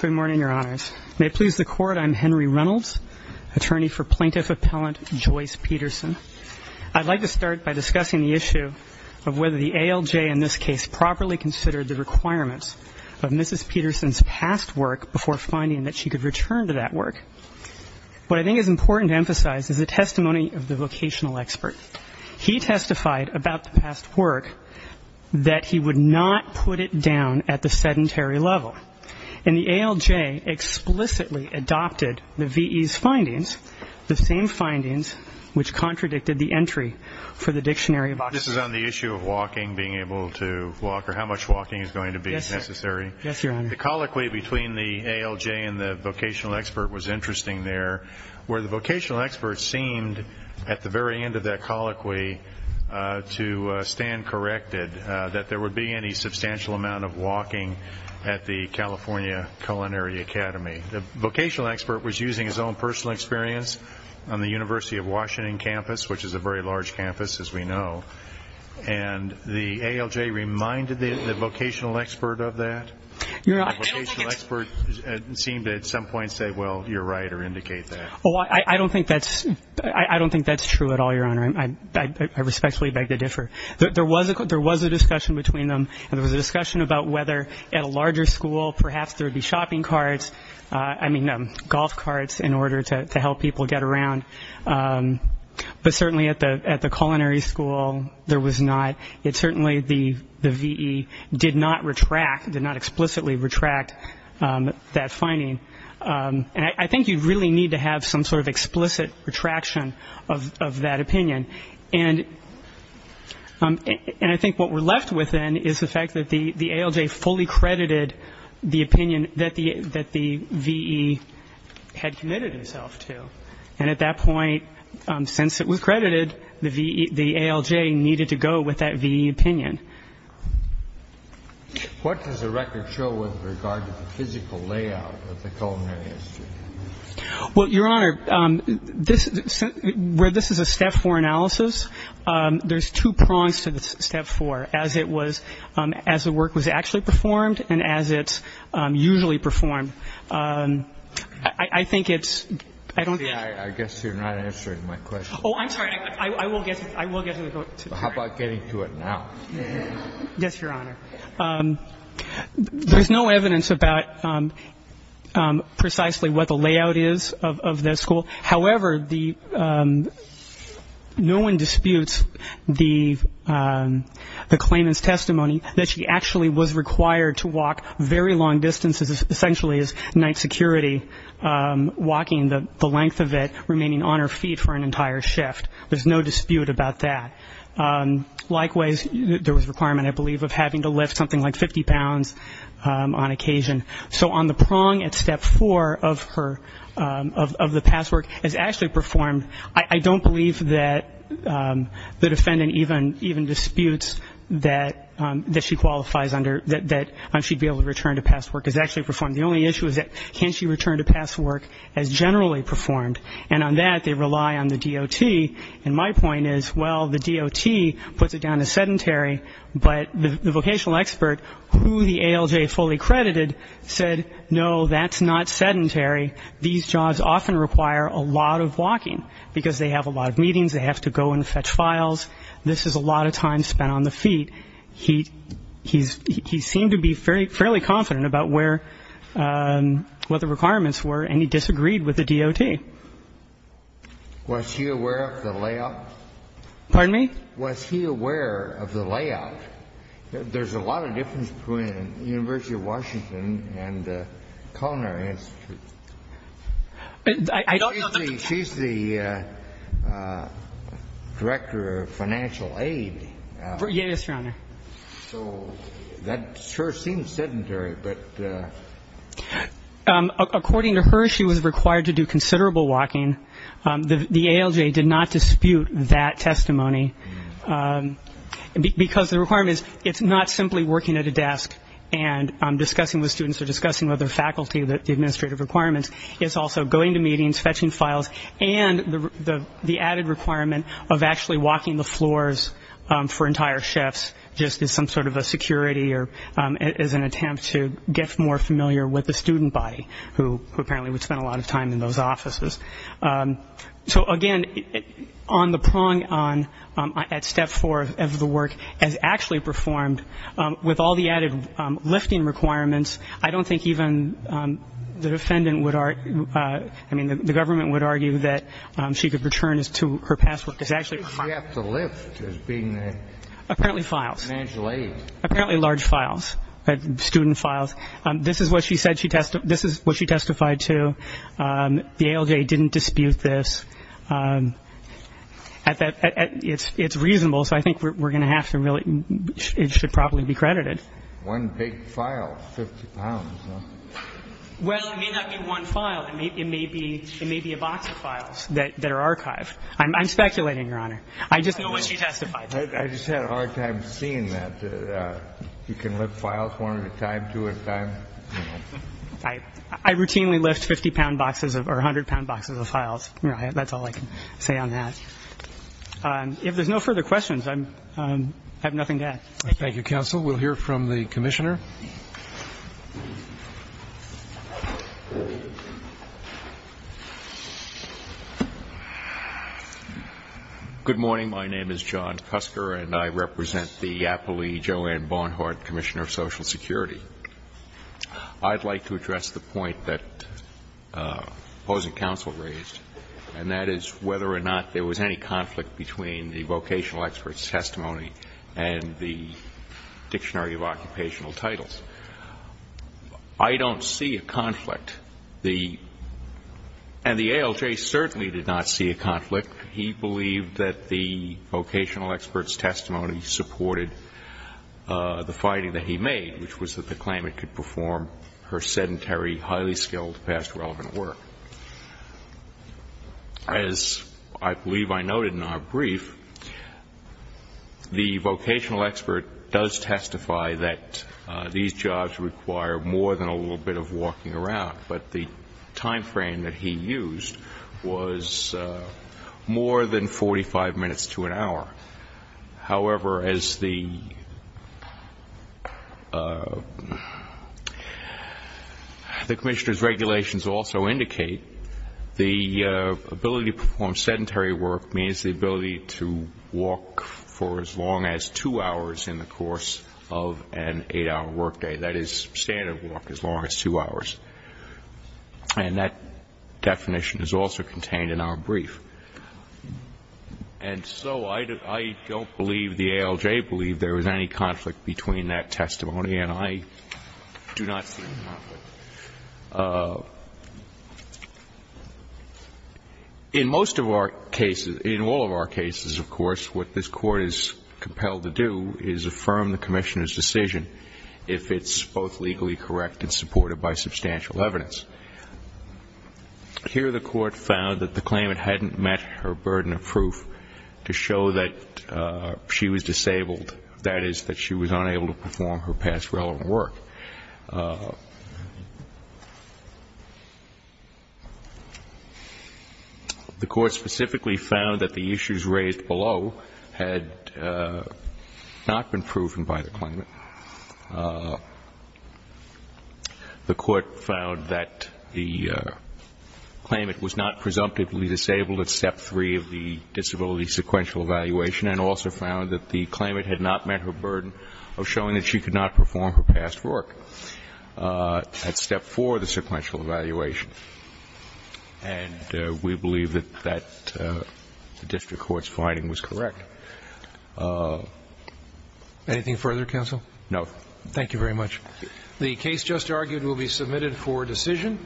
Good morning, Your Honors. May it please the Court, I'm Henry Reynolds, attorney for Plaintiff Appellant Joyce Peterson. I'd like to start by discussing the issue of whether the ALJ in this case properly considered the requirements of Mrs. Peterson's past work before finding that she could return to that work. What I think is important to emphasize is the testimony of the ALJ did not put it down at the sedentary level. And the ALJ explicitly adopted the V.E.'s findings, the same findings which contradicted the entry for the Dictionary of Occupation. This is on the issue of walking, being able to walk, or how much walking is going to be necessary? Yes, Your Honor. The colloquy between the ALJ and the vocational expert was interesting there, where the vocational expert seemed, at the very end of that colloquy, to stand corrected that there would be any substantial amount of walking at the California Culinary Academy. The vocational expert was using his own personal experience on the University of Washington campus, which is a very large campus, as we know. And the ALJ reminded the vocational expert of that? Your Honor, I don't think it's... The vocational expert seemed at some point to say, well, you're right, or indicate that. Well, I don't think that's true at all, Your Honor. I respectfully beg to differ. There was a discussion between them, and there was a discussion about whether at a larger school, perhaps there would be shopping carts, I mean, golf carts, in order to help people get around. But certainly at the culinary school, there was not. It certainly, the V.E. did not retract, did not explicitly retract that finding. And I think you really need to have some sort of explicit retraction of that opinion. And I think what we're left with, then, is the fact that the ALJ fully credited the opinion that the V.E. had committed himself to. And at that point, since it was credited, the ALJ needed to go with that V.E. opinion. What does the record show with regard to the physical layout of the culinary history? Well, Your Honor, where this is a step four analysis, there's two prongs to the step four, as it was as the work was actually performed and as it's usually performed. I think it's ‑‑ I guess you're not answering my question. Oh, I'm sorry. I will get to it. How about getting to it now? Yes, Your Honor. There's no evidence about precisely what the layout is of the school. However, no one disputes the claimant's testimony that she actually was required to walk very long distances, essentially as night security, walking the length of it, remaining on her feet for an entire shift. There's no dispute about that. Likewise, there was a requirement, I believe, of having to lift something like 50 pounds on occasion. So on the prong at step four of her ‑‑ of the past work, as actually performed, I don't believe that the defendant even disputes that she qualifies under, that she'd be able to return to past work as actually performed. The only issue is that can she return to past work as generally performed? And on that, they rely on the DOT. And my point is, well, the DOT puts it down as sedentary, but the vocational expert, who the ALJ fully credited, said, no, that's not sedentary. These jobs often require a lot of walking because they have a lot of meetings, they have to go and fetch files. This is a lot of time spent on the feet. He seemed to be fairly confident about where ‑‑ what the requirements were, and he disagreed with the DOT. Was he aware of the layout? Pardon me? Was he aware of the layout? There's a lot of difference between the University of Washington and the Culinary Institute. I don't know that the ‑‑ She's the director of financial aid. Yes, Your Honor. So that sure seems sedentary, but ‑‑ According to her, she was required to do considerable walking. The ALJ did not dispute that testimony because the requirements, it's not simply working at a desk and discussing with students or discussing with their faculty the administrative requirements. It's also going to meetings, fetching files, and the added requirement of actually walking the floors for entire shifts, just as some sort of a security or as an attempt to get more familiar with the student body, who apparently would spend a lot of time in those offices. So, again, on the prong at step four of the work, as actually performed, with all the added lifting requirements, I don't think even the defendant would ‑‑ I mean, the government would argue that she could return to her past work. She has to lift as being the financial aid. Apparently large files, student files. This is what she testified to. The ALJ didn't dispute this. It's reasonable, so I think we're going to have to really ‑‑ it should probably be credited. One big file, 50 pounds. Well, it may not be one file. It may be a box of files that are archived. I'm speculating, Your Honor. I just know what she testified to. I just had a hard time seeing that. You can lift files one at a time, two at a time. I routinely lift 50 pound boxes or 100 pound boxes of files. That's all I can say on that. If there's no further questions, I have nothing to add. Thank you, counsel. We'll hear from the commissioner. Good morning. My name is John Cusker, and I represent the Apolli Joanne Bonhart Commissioner of Social Security. I'd like to address the point that opposing counsel raised, and that is whether or not there was any conflict between the vocational expert's testimony and the Dictionary of Occupational Types. I don't see a conflict. And the ALJ certainly did not see a conflict. He believed that the vocational expert's testimony supported the finding that he made, which was that the claimant could perform her sedentary, highly skilled past relevant work. As I believe I noted in our brief, the vocational expert does testify that these jobs require more than a little bit of walking around, but the timeframe that he used was more than 45 minutes to an hour. However, as the commissioner's regulations also indicate, the ability to perform sedentary work means the ability to walk for as long as two hours in the course of an eight-hour work day. That is standard walk, as long as two hours. And that definition is also contained in our brief. And so I don't believe, the ALJ believed, there was any conflict between that testimony, and I do not see a conflict. In most of our cases, in all of our cases, of course, what this Court is compelled to do is affirm the commissioner's decision, if it's both legally correct and supported by substantial evidence. Here the Court found that the claimant hadn't met her burden of proof to show that she was disabled, that is, that she was unable to perform her past relevant work. The Court specifically found that the issues raised below had not been proven by the claimant. The Court found that the claimant was not presumptively disabled at Step 3 of the disability sequential evaluation, and also found that the claimant had not met her burden of showing that she could not perform her past work at Step 4 of the sequential evaluation. And we believe that that district court's finding was correct. Anything further, counsel? No. Thank you very much. The case just argued will be submitted for decision.